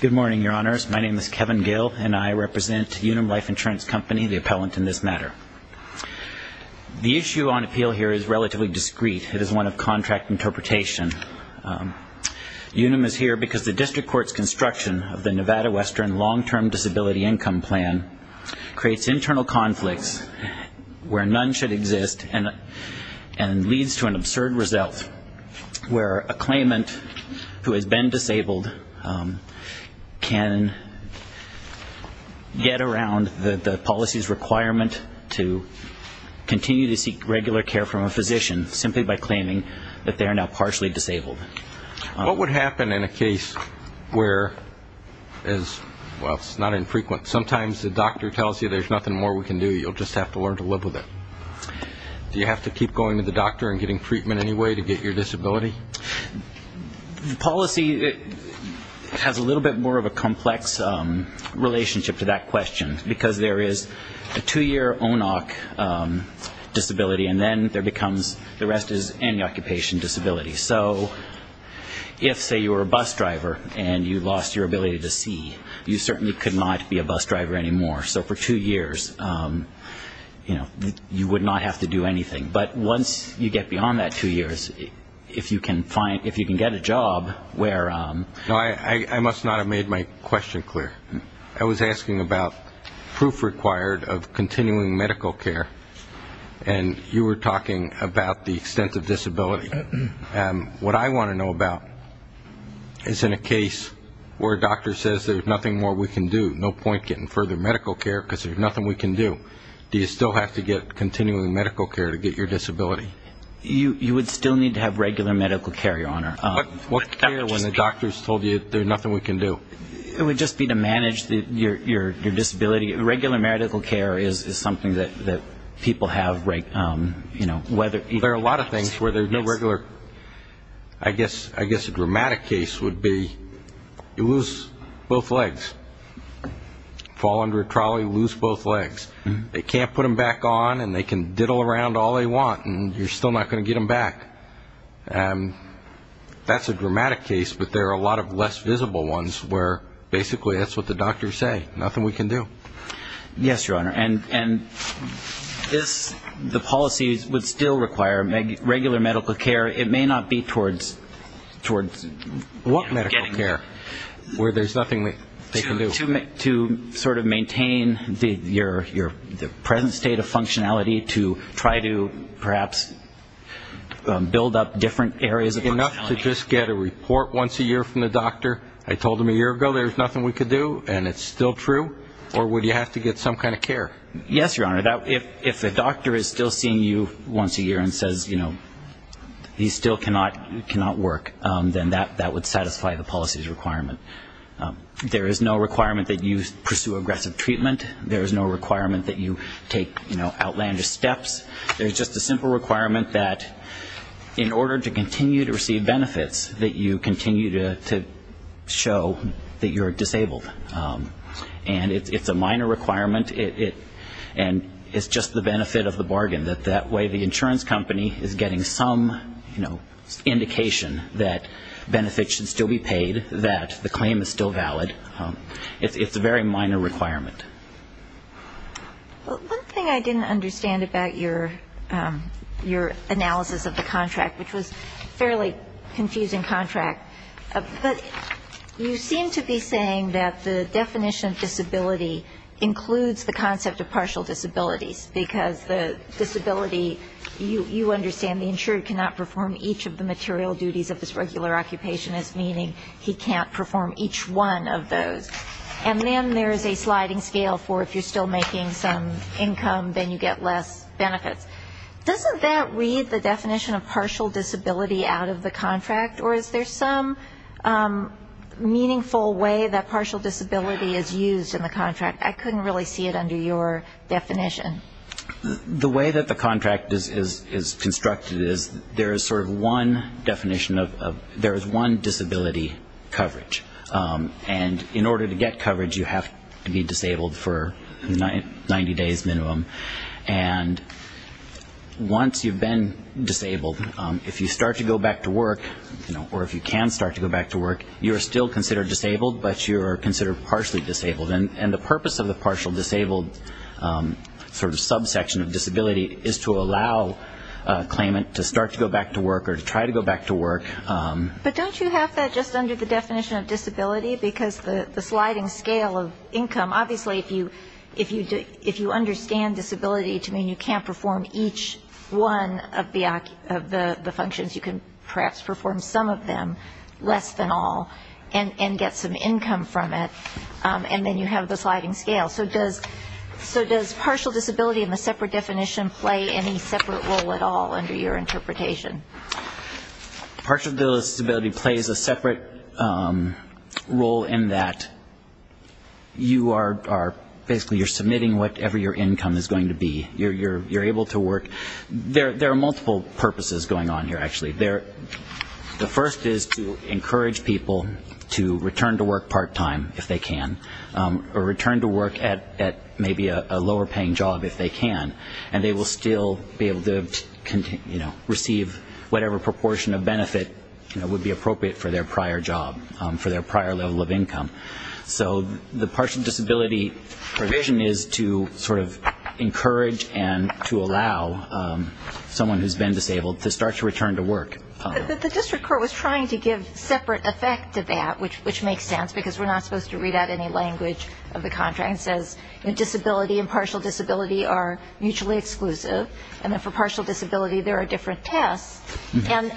Good morning, Your Honors. My name is Kevin Gill and I represent UNUM Life Insurance Company, the appellant in this matter. The issue on appeal here is relatively discreet. It is one of contract interpretation. UNUM is here because the District Court's construction of the Nevada Western Long-Term Disability Income Plan creates internal conflicts where none should exist and leads to an absurd result where a claimant who has been disabled can get around the policy's requirement to continue to seek regular care from a physician simply by claiming that they are now partially disabled. What would happen in a case where, well, it's not infrequent, sometimes the doctor tells you there's nothing more we can do, you'll just have to learn to live with it. Do you have to keep going to the doctor and getting treatment anyway to get your disability? The policy has a little bit more of a complex relationship to that question because there is a two-year ONOC disability and then there becomes, the rest is any occupation disability. So if, say, you were a bus driver and you lost your ability to see, you certainly could not be a bus driver anymore. So for two years, you know, you would not have to do anything. But once you get beyond that two years, if you can find, if you can get a job where... I must not have made my question clear. I was asking about proof required of continuing medical care, and you were talking about the extensive disability. What I want to know about is in a case where a doctor says there's nothing more we can do, there's no point getting further medical care because there's nothing we can do, do you still have to get continuing medical care to get your disability? You would still need to have regular medical care, Your Honor. What care when the doctor's told you there's nothing we can do? It would just be to manage your disability. Regular medical care is something that people have, you know, whether... There are a lot of things where there's no regular. I guess a dramatic case would be you lose both legs, fall under a trolley, lose both legs. They can't put them back on, and they can diddle around all they want, and you're still not going to get them back. That's a dramatic case, but there are a lot of less visible ones where basically that's what the doctors say, nothing we can do. Yes, Your Honor. And the policies would still require regular medical care. It may not be towards what medical care where there's nothing they can do? To sort of maintain your present state of functionality to try to perhaps build up different areas of functionality. Enough to just get a report once a year from the doctor, I told him a year ago there was nothing we could do, and it's still true? Or would you have to get some kind of care? Yes, Your Honor. If the doctor is still seeing you once a year and says, you know, these still cannot work, then that would satisfy the policies requirement. There is no requirement that you pursue aggressive treatment. There is no requirement that you take outlandish steps. There's just a simple requirement that in order to continue to receive benefits, that you continue to show that you're disabled. And it's a minor requirement, and it's just the benefit of the bargain, that that way the insurance company is getting some, you know, indication that benefits should still be paid, that the claim is still valid. It's a very minor requirement. One thing I didn't understand about your analysis of the contract, which was a fairly confusing contract, but you seem to be saying that the definition of disability includes the concept of partial disabilities, because the disability, you understand the insured cannot perform each of the material duties of his regular occupation, meaning he can't perform each one of those. And then there is a sliding scale for if you're still making some income, then you get less benefits. Doesn't that read the definition of partial disability out of the contract, or is there some meaningful way that partial disability is used in the contract? I couldn't really see it under your definition. The way that the contract is constructed is there is sort of one definition of, there is one disability coverage. And in order to get coverage, you have to be disabled for 90 days minimum. And once you've been disabled, if you start to go back to work, or if you can start to go back to work, you are still considered disabled, but you are considered partially disabled. And the purpose of the partial disabled sort of subsection of disability is to allow a claimant to start to go back to work or to try to go back to work. But don't you have that just under the definition of disability, because the sliding scale of income, obviously if you understand disability to mean you can't perform each one of the functions, you can perhaps perform some of them, less than all, and get some income from it, and then you have the sliding scale. So does partial disability in the separate definition play any separate role at all under your interpretation? Partial disability plays a separate role in that you are basically submitting whatever your income is going to be. There are multiple purposes going on here, actually. The first is to encourage people to return to work part-time if they can, or return to work at maybe a lower paying job if they can, and they will still be able to receive whatever proportion of benefit would be appropriate for their prior job, for their prior level of income. So the partial disability provision is to sort of encourage and to allow someone who has been disabled to start to return to work. But the district court was trying to give separate effect to that, which makes sense, because we're not supposed to read out any language of the contract. It says disability and partial disability are mutually exclusive, and then for partial disability there are different tests, and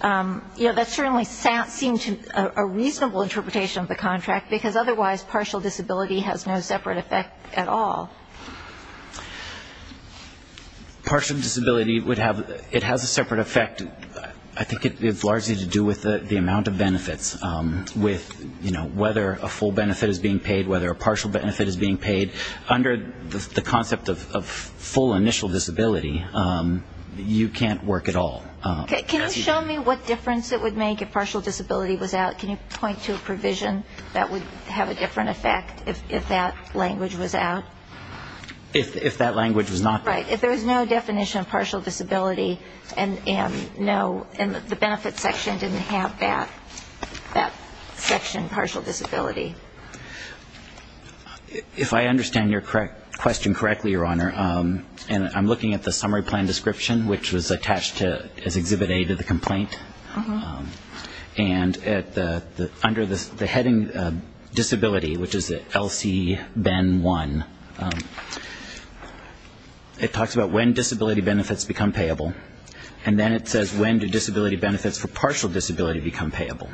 that certainly seemed a reasonable interpretation of the contract, because otherwise partial disability has no separate effect at all. Partial disability, it has a separate effect. I think it's largely to do with the amount of benefits, with whether a full benefit is being paid, whether a partial benefit is being paid. Under the concept of full initial disability, you can't work at all. Can you show me what difference it would make if partial disability was out? Can you point to a provision that would have a different effect if that language was out? If that language was not? Right. If there was no definition of partial disability and no, the benefits section didn't have that section, partial disability. If I understand your question correctly, Your Honor, and I'm looking at the summary plan description, which was attached as Exhibit A to the complaint, and under the heading disability, which is LC-BEN1, it talks about when disability benefits become payable, and then it says when do disability benefits for partial disability become payable,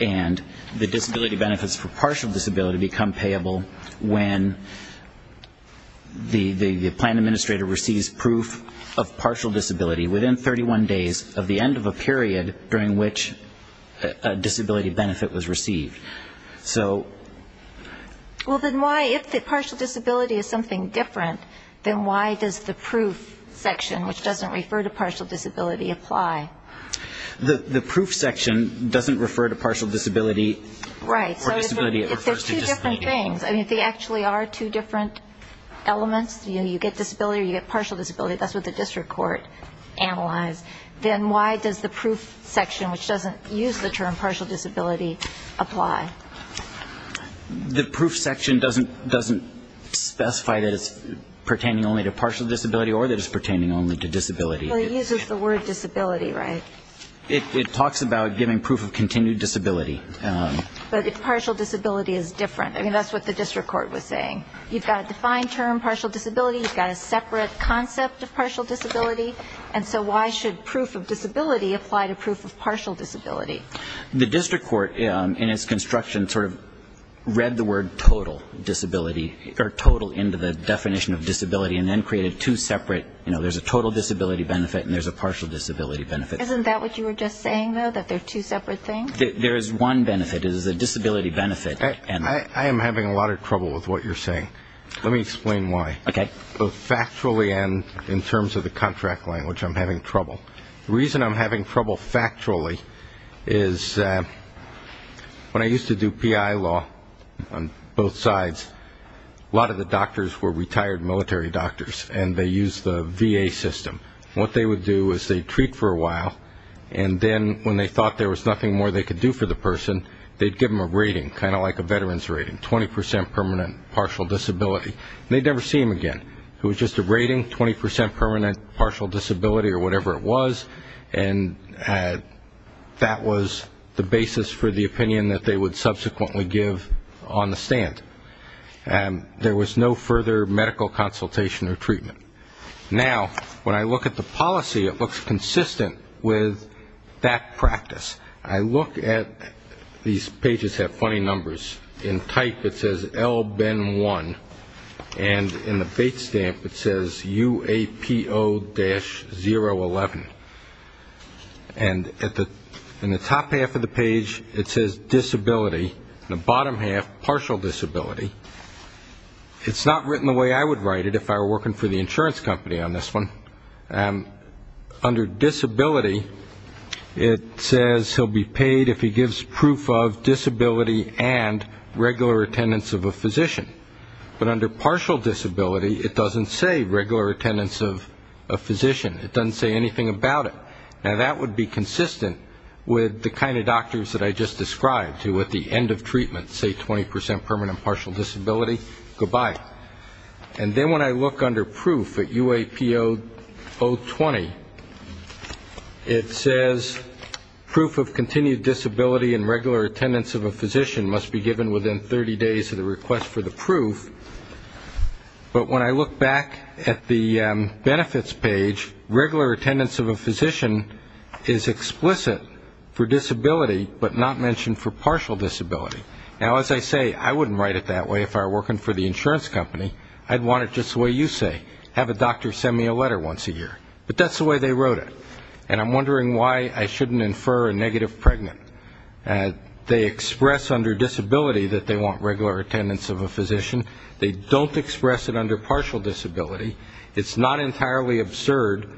and the disability benefits for partial disability become payable when the plan administrator receives proof of partial disability within 31 days of the end of a period during which a disability benefit was received. Well, then why, if partial disability is something different, then why does the proof section, which doesn't refer to partial disability, apply? The proof section doesn't refer to partial disability or disability that refers to disability. Right. So if they're two different things, I mean, if they actually are two different elements, you get disability or you get partial disability, that's what the district court analyzed, then why does the proof section, which doesn't use the term partial disability, apply? The proof section doesn't specify that it's pertaining only to partial disability or that it's pertaining only to disability. Well, it uses the word disability, right? It talks about giving proof of continued disability. But if partial disability is different, I mean, that's what the district court was saying. You've got a defined term, partial disability, you've got a separate concept of partial disability, and so why should proof of disability apply to proof of partial disability? The district court, in its construction, sort of read the word total disability, or total into the definition of disability, and then created two separate, you know, there's a total disability benefit and there's a partial disability benefit. Isn't that what you were just saying, though, that they're two separate things? There is one benefit, it is a disability benefit. I am having a lot of trouble with what you're saying. Let me explain why. Factually and in terms of the contract language, I'm having trouble. The reason I'm having trouble factually is when I used to do PI law on both sides, a lot of the doctors were retired military doctors, and they used the VA system. What they would do is they'd treat for a while, and then when they thought there was nothing more they could do for the person, they'd give them a rating, kind of like a veteran's rating, 20% permanent partial disability. They'd never see them again. It was just a rating, 20% permanent partial disability or whatever it was, and that was the basis for the opinion that they would subsequently give on the stand. There was no further medical consultation or treatment. Now, when I look at the policy, it looks consistent with that practice. I look at these pages that have funny numbers. In type it says L-Ben-1, and in the date stamp it says UAPO-011. And in the top half of the page it says disability, and the bottom half partial disability. It's not written the way I would write it if I were working for the insurance company on this one. Under disability it says he'll be paid if he gives proof of disability and regular attendance of a physician. But under partial disability it doesn't say regular attendance of a physician. It doesn't say anything about it. Now, that would be consistent with the kind of doctors that I just described, who at the end of treatment say 20% permanent partial disability, goodbye. And then when I look under proof at UAPO-020, it says proof of continued disability and regular attendance of a physician must be given within 30 days of the request for the proof. But when I look back at the benefits page, regular attendance of a physician is explicit for disability, but not mentioned for partial disability. Now, as I say, I wouldn't write it that way if I were working for the insurance company. I'd want it just the way you say, have a doctor send me a letter once a year. But that's the way they wrote it. And I'm wondering why I shouldn't infer a negative pregnant. They express under disability that they want regular attendance of a physician. They don't express it under partial disability. It's not entirely absurd,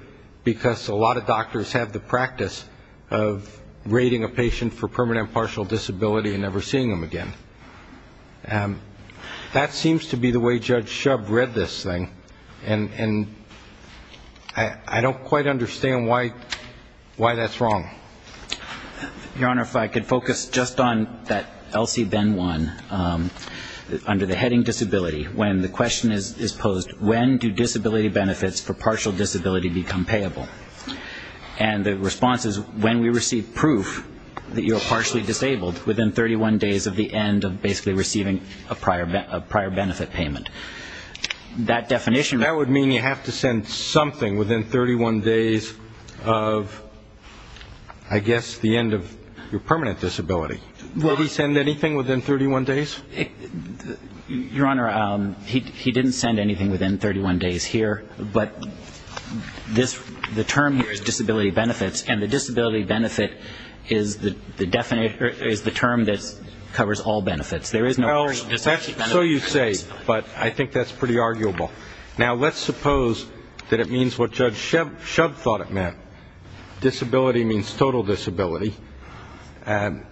because a lot of doctors have the practice of rating a patient for permanent partial disability and never seeing them again. That seems to be the way Judge Shub read this thing, and I don't quite understand why that's wrong. Your Honor, if I could focus just on that Elsie Benn one, under the heading disability, when the question is posed, when do disability benefits for partial disability become payable? And the response is when we receive proof that you're partially disabled within 31 days of the end of basically receiving a prior benefit payment. That definition would mean you have to send something within 31 days of, I guess, the end of your permanent disability. Do we send anything within 31 days? Your Honor, he didn't send anything within 31 days here, but the term here is disability benefits, and the disability benefit is the term that covers all benefits. There is no partial disability benefit. So you say, but I think that's pretty arguable. Now, let's suppose that it means what Judge Shub thought it meant. Disability means total disability. That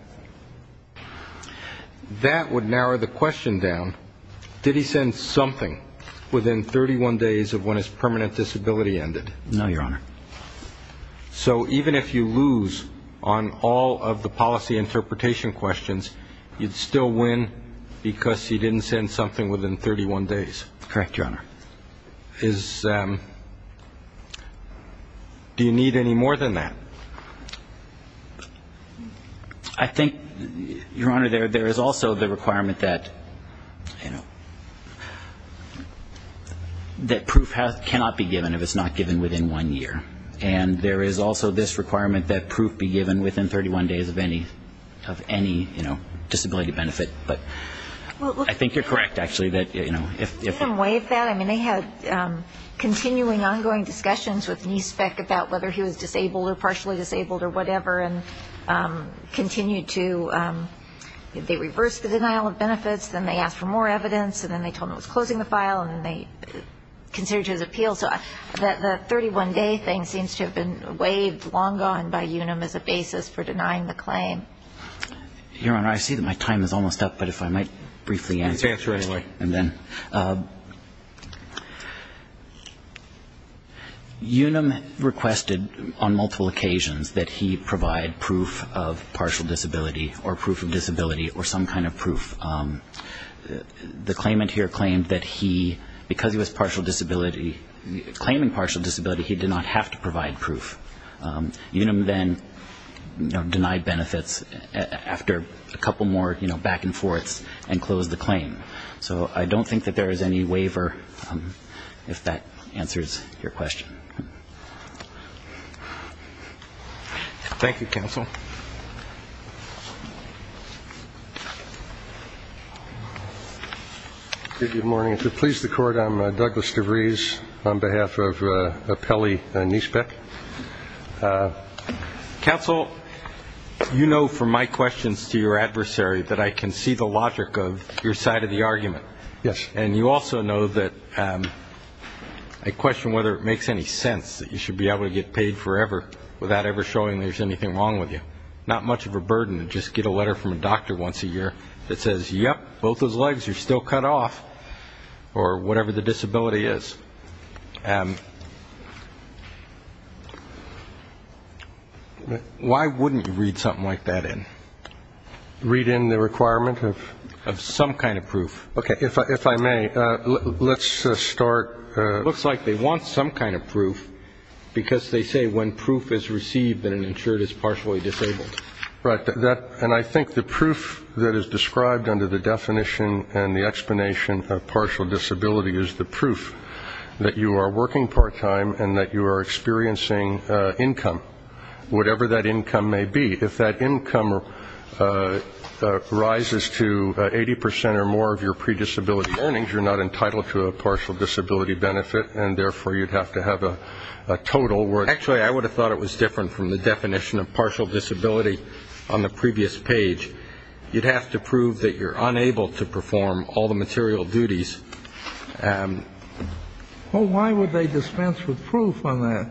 would narrow the question down. Did he send something within 31 days of when his permanent disability ended? No, Your Honor. So even if you lose on all of the policy interpretation questions, you'd still win because he didn't send something within 31 days. Correct, Your Honor. Do you need any more than that? I think, Your Honor, there is also the requirement that, you know, that proof cannot be given if it's not given within one year. And there is also this requirement that proof be given within 31 days of any, you know, disability benefit. But I think you're correct, actually, that, you know, if we're going to waive that. I mean, they had continuing ongoing discussions with NISBEC about whether he was disabled or partially disabled or whatever, and continued to they reversed the denial of benefits, then they asked for more evidence, and then they told him it was closing the file, and then they considered his appeal. So the 31-day thing seems to have been waived long gone by UNAM as a basis for denying the claim. Your Honor, I see that my time is almost up, but if I might briefly answer the question. Yes, right away. Okay. UNAM requested on multiple occasions that he provide proof of partial disability or proof of disability or some kind of proof. The claimant here claimed that he, because he was partial disability, claiming partial disability, he did not have to provide proof. UNAM then denied benefits after a couple more, you know, back and forths and closed the claim. So I don't think that there is any waiver, if that answers your question. Thank you, counsel. Good morning. Thank you. Please, the Court. I'm Douglas DeVries on behalf of Pelley Newspeck. Counsel, you know from my questions to your adversary that I can see the logic of your side of the argument. Yes. And you also know that I question whether it makes any sense that you should be able to get paid forever without ever showing there's anything wrong with you. Not much of a burden to just get a letter from a doctor once a year that says, yep, both those legs are still cut off, or whatever the disability is. Why wouldn't you read something like that in? Read in the requirement of some kind of proof. Okay. If I may, let's start. It looks like they want some kind of proof, because they say when proof is received that an insured is partially disabled. Right. And I think the proof that is described under the definition and the explanation of partial disability is the proof that you are working part-time and that you are experiencing income, whatever that income may be. If that income rises to 80 percent or more of your predisability earnings, you're not entitled to a partial disability benefit, and therefore you'd have to have a total. Actually, I would have thought it was different from the definition of partial disability on the previous page. You'd have to prove that you're unable to perform all the material duties. Well, why would they dispense with proof on that?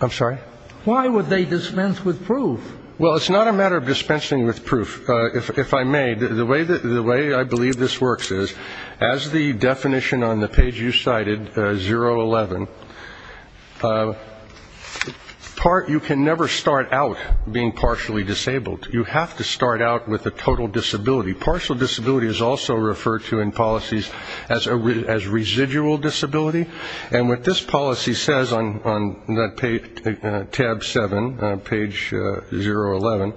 I'm sorry? Why would they dispense with proof? Well, it's not a matter of dispensing with proof. If I may, the way I believe this works is as the definition on the page you cited, 011, you can never start out being partially disabled. You have to start out with a total disability. Partial disability is also referred to in policies as residual disability. And what this policy says on tab 7, page 011,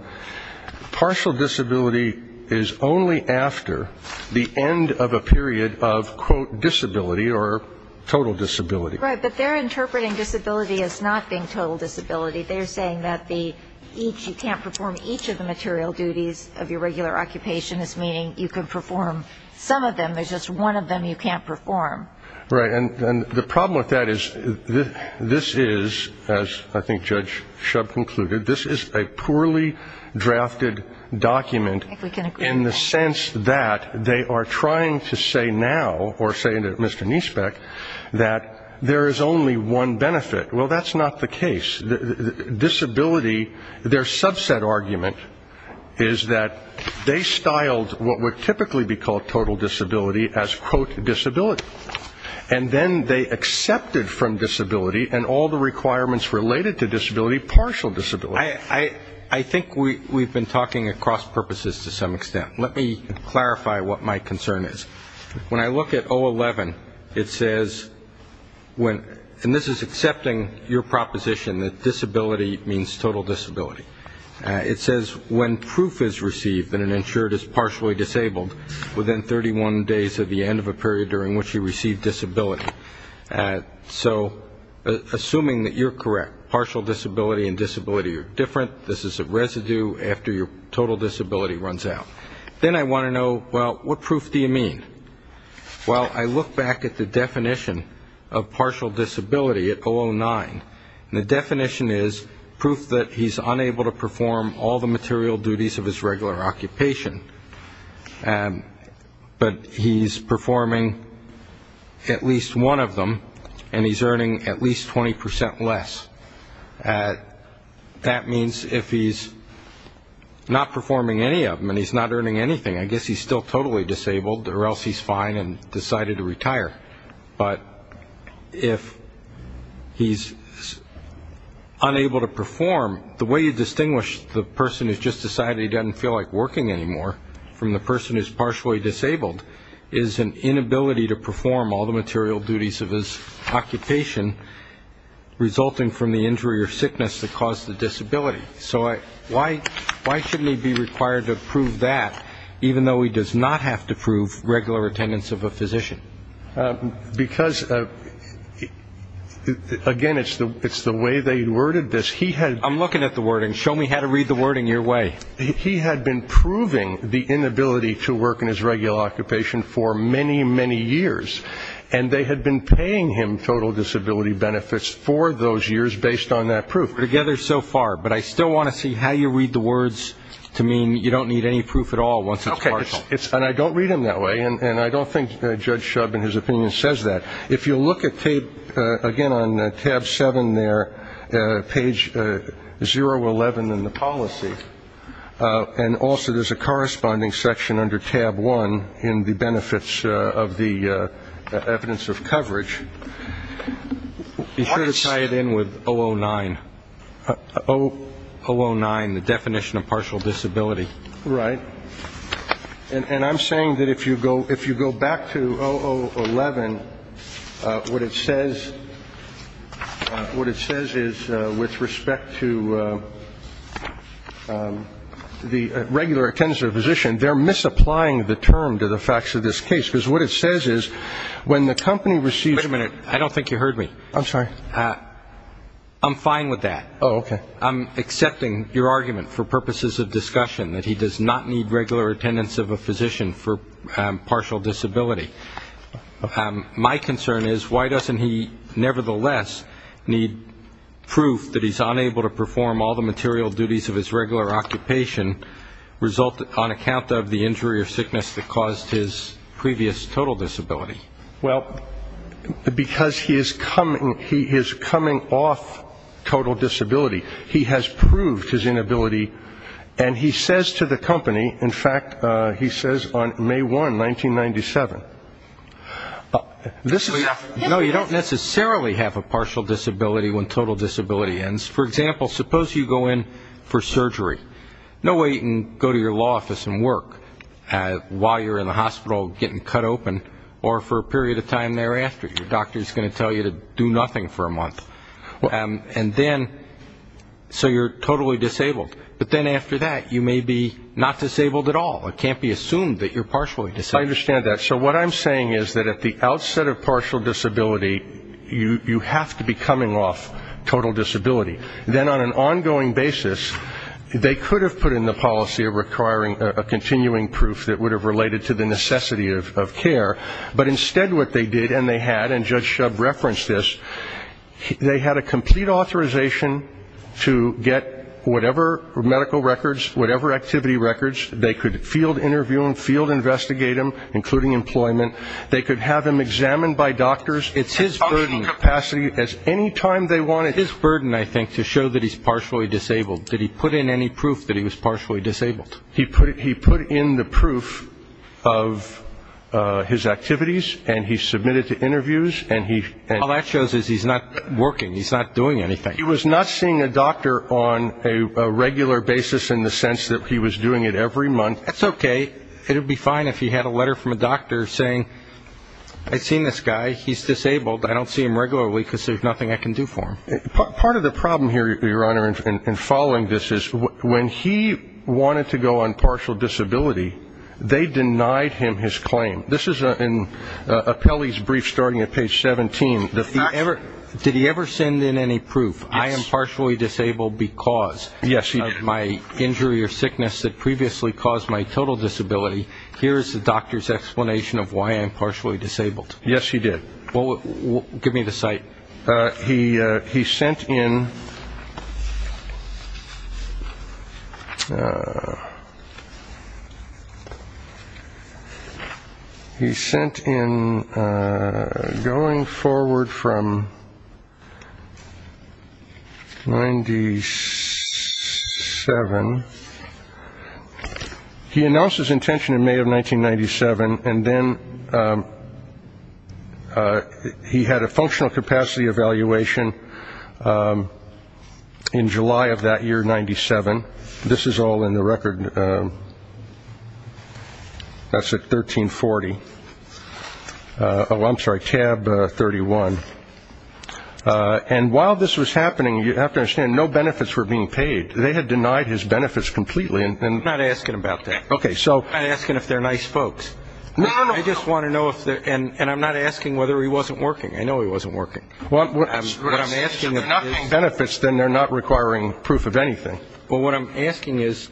partial disability is only after the end of a period of, quote, disability or total disability. Right. But they're interpreting disability as not being total disability. They're saying that you can't perform each of the material duties of your regular occupation, meaning you can perform some of them. There's just one of them you can't perform. Right. And the problem with that is this is, as I think Judge Shub concluded, this is a poorly drafted document in the sense that they are trying to say now, or saying to Mr. Niesbeck, that there is only one benefit. Well, that's not the case. Disability, their subset argument is that they styled what would typically be called total disability as, quote, disability. And then they accepted from disability and all the requirements related to disability partial disability. I think we've been talking across purposes to some extent. Let me clarify what my concern is. When I look at 011, it says, and this is accepting your proposition that disability means total disability. It says when proof is received that an insured is partially disabled within 31 days of the end of a period during which he received disability. So assuming that you're correct, partial disability and disability are different, this is a residue after your total disability runs out. Then I want to know, well, what proof do you mean? Well, I look back at the definition of partial disability at 009, and the definition is proof that he's unable to perform all the material duties of his regular occupation, but he's performing at least one of them, and he's earning at least 20 percent less. That means if he's not performing any of them and he's not earning anything, I guess he's still totally disabled, or else he's fine and decided to retire. But if he's unable to perform, the way you distinguish the person who's just decided he doesn't feel like working anymore from the person who's partially disabled is an inability to perform all the material duties of his occupation, resulting from the injury or sickness that caused the disability. So why shouldn't he be required to prove that, even though he does not have to prove regular attendance of a physician? Because, again, it's the way they worded this. I'm looking at the wording. Show me how to read the wording your way. He had been proving the inability to work in his regular occupation for many, many years, and they had been paying him total disability benefits for those years based on that proof. We're together so far, but I still want to see how you read the words to mean you don't need any proof at all once it's partial. Okay. And I don't read them that way, and I don't think Judge Shub in his opinion says that. If you look at, again, on tab seven there, page 011 in the policy, and also there's a corresponding section under tab one in the benefits of the evidence of coverage. Be sure to tie it in with 009, 009, the definition of partial disability. Right. And I'm saying that if you go back to 0011, what it says is with respect to the regular attendance of a physician, they're misapplying the term to the facts of this case, because what it says is when the company receives... Wait a minute. I don't think you heard me. I'm sorry. I'm fine with that. Oh, okay. Well, I'm accepting your argument for purposes of discussion that he does not need regular attendance of a physician for partial disability. My concern is why doesn't he nevertheless need proof that he's unable to perform all the material duties of his regular occupation on account of the injury or sickness that caused his previous total disability? Well, because he is coming off total disability. He has proved his inability, and he says to the company, in fact, he says on May 1, 1997. No, you don't necessarily have a partial disability when total disability ends. For example, suppose you go in for surgery. No way you can go to your law office and work while you're in the hospital getting cut open or for a period of time thereafter. Your doctor is going to tell you to do nothing for a month. And then, so you're totally disabled. But then after that, you may be not disabled at all. It can't be assumed that you're partially disabled. I understand that. So what I'm saying is that at the outset of partial disability, you have to be coming off total disability. Then on an ongoing basis, they could have put in the policy of requiring a continuing proof that would have related to the necessity of care. But instead what they did, and they had, and Judge Shub referenced this, they had a complete authorization to get whatever medical records, whatever activity records, they could field interview them, field investigate them, including employment. They could have them examined by doctors. It's his burden. It's his burden, I think, to show that he's partially disabled. Did he put in any proof that he was partially disabled? He put in the proof of his activities, and he submitted the interviews. All that shows is he's not working. He's not doing anything. He was not seeing a doctor on a regular basis in the sense that he was doing it every month. That's okay. It would be fine if he had a letter from a doctor saying, I've seen this guy, he's disabled, I don't see him regularly because there's nothing I can do for him. Part of the problem here, Your Honor, in following this is when he wanted to go on partial disability, they denied him his claim. This is in Apelli's brief starting at page 17. Did he ever send in any proof, I am partially disabled because of my injury or sickness that previously caused my total disability? Here is the doctor's explanation of why I'm partially disabled. Yes, he did. Give me the cite. He sent in going forward from 1997. He announced his intention in May of 1997, and then he had a functional capacity evaluation in July of that year, 97. This is all in the record. That's at 1340. Oh, I'm sorry, tab 31. And while this was happening, you have to understand, no benefits were being paid. They had denied his benefits completely. I'm not asking about that. Okay, so. I'm not asking if they're nice folks. No, no, no. I just want to know if they're, and I'm not asking whether he wasn't working. I know he wasn't working. Well, what I'm asking is benefits, then they're not requiring proof of anything. Well, what I'm asking is,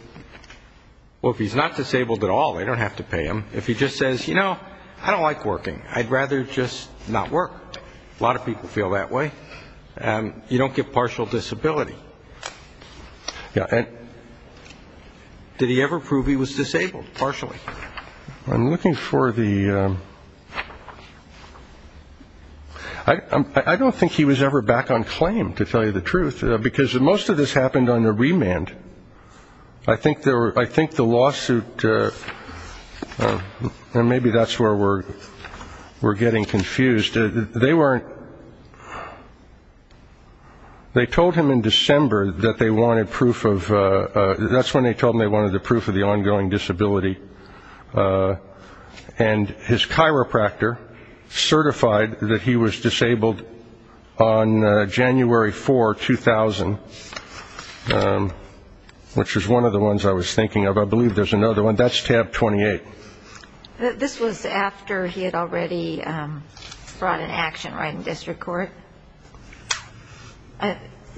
well, if he's not disabled at all, they don't have to pay him. If he just says, you know, I don't like working. I'd rather just not work. A lot of people feel that way. You don't get partial disability. Yeah. Did he ever prove he was disabled, partially? I'm looking for the, I don't think he was ever back on claim, to tell you the truth, because most of this happened under remand. I think the lawsuit, and maybe that's where we're getting confused. They weren't, they told him in December that they wanted proof of, that's when they told him they wanted the proof of the ongoing disability. And his chiropractor certified that he was disabled on January 4, 2000, which was one of the ones I was thinking of. I believe there's another one. That's tab 28. This was after he had already brought an action right in district court.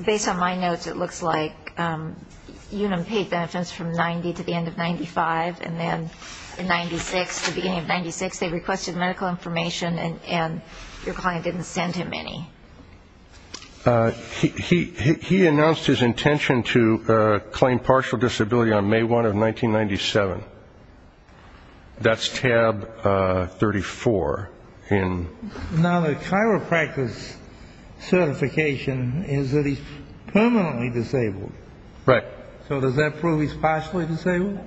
Based on my notes, it looks like Unum paid benefits from 90 to the end of 95, and then in 96, the beginning of 96, they requested medical information, and your client didn't send him any. He announced his intention to claim partial disability on May 1 of 1997. That's tab 34. Now, the chiropractor's certification is that he's permanently disabled. Right. So does that prove he's partially disabled?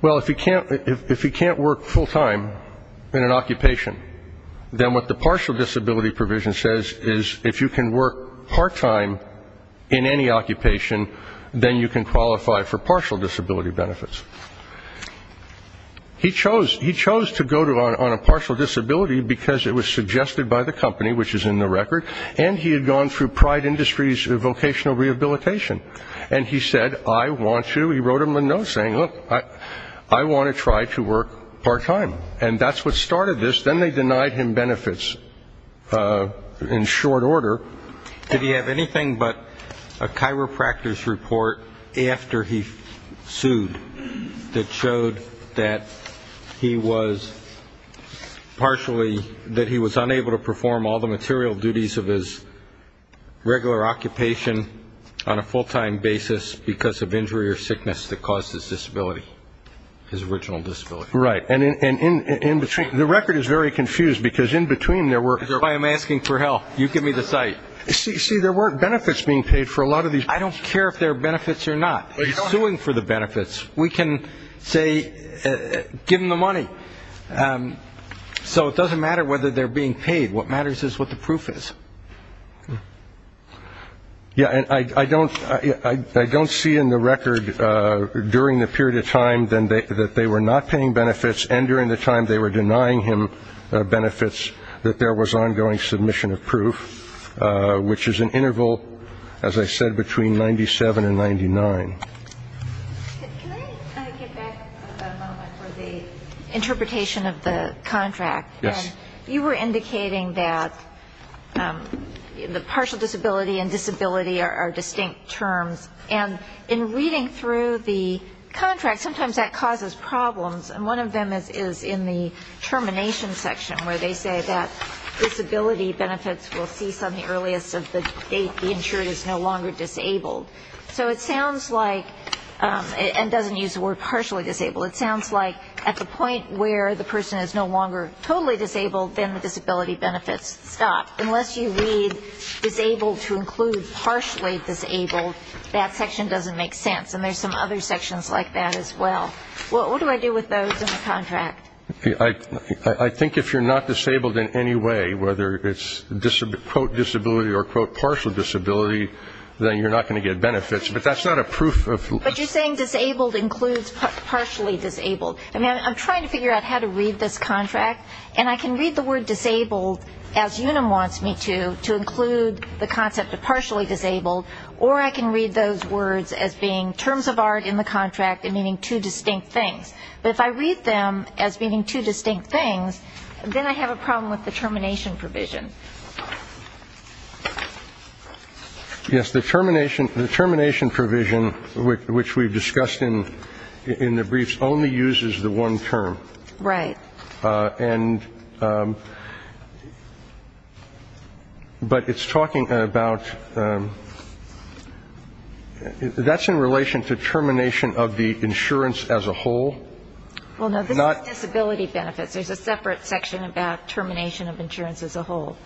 Well, if he can't work full time in an occupation, then what the partial disability provision says is if you can work part time in any occupation, then you can qualify for partial disability benefits. He chose to go on a partial disability because it was suggested by the company, which is in the record, and he had gone through Pride Industries Vocational Rehabilitation. And he said, I want to, he wrote him a note saying, look, I want to try to work part time. And that's what started this. Then they denied him benefits in short order. Did he have anything but a chiropractor's report after he sued that showed that he was partially, that he was unable to perform all the material duties of his regular occupation on a full-time basis because of injury or sickness that caused his disability, his original disability? Right. And in between, the record is very confused because in between there were. I'm asking for help. You give me the site. See, there weren't benefits being paid for a lot of these. I don't care if there are benefits or not. He's suing for the benefits. We can say, give him the money. So it doesn't matter whether they're being paid. What matters is what the proof is. Yeah. And I don't see in the record during the period of time that they were not paying benefits and during the time they were denying him benefits that there was ongoing submission of proof, which is an interval, as I said, between 97 and 99. Can I get back for the interpretation of the contract? Yes. You were indicating that the partial disability and disability are distinct terms. And in reading through the contract, sometimes that causes problems. And one of them is in the termination section, where they say that disability benefits will cease on the earliest of the date the insured is no longer disabled. So it sounds like, and doesn't use the word partially disabled, it sounds like at the point where the person is no longer totally disabled, then the disability benefits stop. Unless you read disabled to include partially disabled, that section doesn't make sense. And there's some other sections like that as well. What do I do with those in the contract? I think if you're not disabled in any way, whether it's, quote, disability or, quote, partial disability, then you're not going to get benefits. But that's not a proof. But you're saying disabled includes partially disabled. I mean, I'm trying to figure out how to read this contract. And I can read the word disabled, as Unum wants me to, to include the concept of partially disabled, or I can read those words as being terms of art in the contract and meaning two distinct things. But if I read them as meaning two distinct things, then I have a problem with the termination provision. Yes, the termination provision, which we've discussed in the briefs, only uses the one term. Right. And but it's talking about that's in relation to termination of the insurance as a whole. Well, no, this is disability benefits. There's a separate section about termination of insurance as a whole.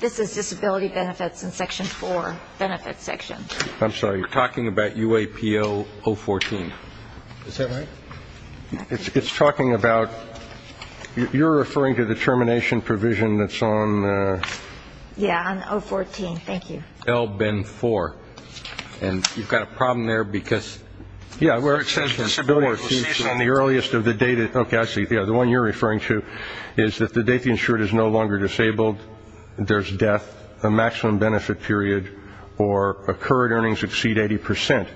This is disability benefits in Section 4, benefits section. I'm sorry. You're talking about UAPO 014. Is that right? It's talking about you're referring to the termination provision that's on. Yeah, on 014. Thank you. LBIN 4. And you've got a problem there because. Yeah, where it says disability. On the earliest of the data. Okay, I see. Yeah, the one you're referring to is that the date the insured is no longer disabled, there's death, a maximum benefit period, or a current earnings exceed 80 percent.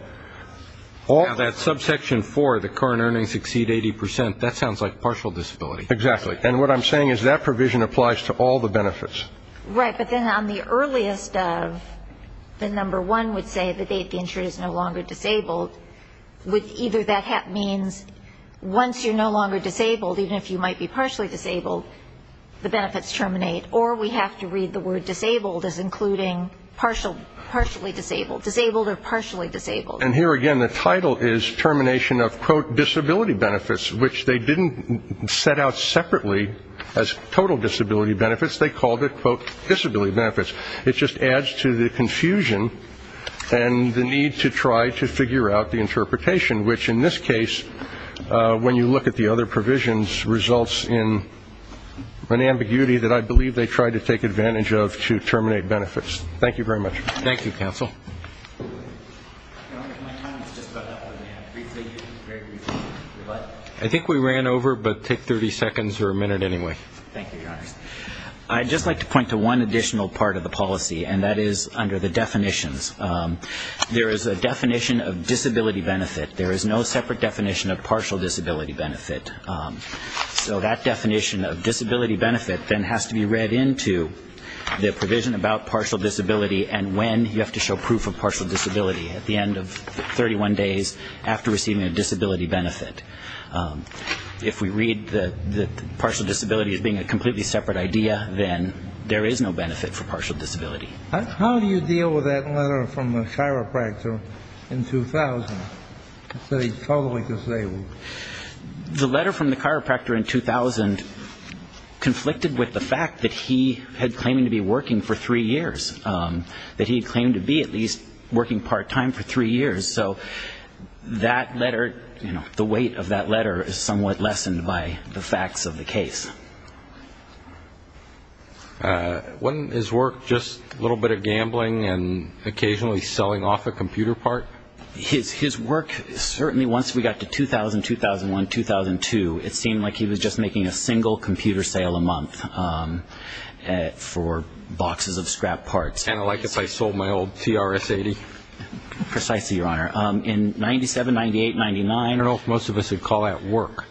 All that subsection 4, the current earnings exceed 80 percent, that sounds like partial disability. Exactly. And what I'm saying is that provision applies to all the benefits. Right. But then on the earliest of the number one would say the date the insured is no longer disabled. Either that means once you're no longer disabled, even if you might be partially disabled, the benefits terminate, or we have to read the word disabled as including partially disabled, disabled or partially disabled. And here again the title is termination of, quote, disability benefits, which they didn't set out separately as total disability benefits. They called it, quote, disability benefits. It just adds to the confusion and the need to try to figure out the interpretation, which in this case, when you look at the other provisions, results in an ambiguity that I believe they tried to take advantage of to terminate benefits. Thank you very much. Thank you, counsel. I think we ran over, but take 30 seconds or a minute anyway. Thank you, Your Honor. I'd just like to point to one additional part of the policy, and that is under the definitions. There is a definition of disability benefit. There is no separate definition of partial disability benefit. So that definition of disability benefit then has to be read into the provision about partial disability and when you have to show proof of partial disability at the end of 31 days after receiving a disability benefit. If we read the partial disability as being a completely separate idea, then there is no benefit for partial disability. How do you deal with that letter from the chiropractor in 2000 that he's totally disabled? The letter from the chiropractor in 2000 conflicted with the fact that he had claimed to be working for three years, that he had claimed to be at least working part-time for three years. So that letter, you know, the weight of that letter is somewhat lessened by the facts of the case. Wasn't his work just a little bit of gambling and occasionally selling off a computer part? His work, certainly once we got to 2000, 2001, 2002, it seemed like he was just making a single computer sale a month for boxes of scrap parts. Kind of like if I sold my old TRS-80. Precisely, Your Honor. In 97, 98, 99. I don't know if most of us would call that work.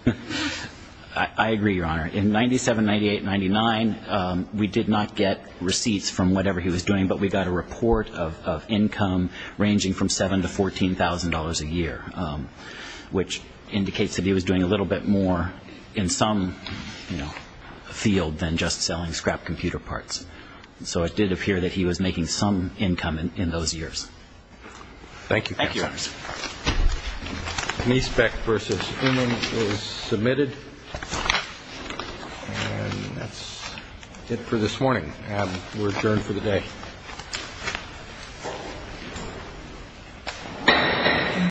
I agree, Your Honor. In 97, 98, 99, we did not get receipts from whatever he was doing, but we got a report of income ranging from $7,000 to $14,000 a year, which indicates that he was doing a little bit more in some field than just selling scrap computer parts. So it did appear that he was making some income in those years. Thank you. Thank you, Your Honors. Nesbeck v. Uman is submitted. And that's it for this morning. We're adjourned for the day.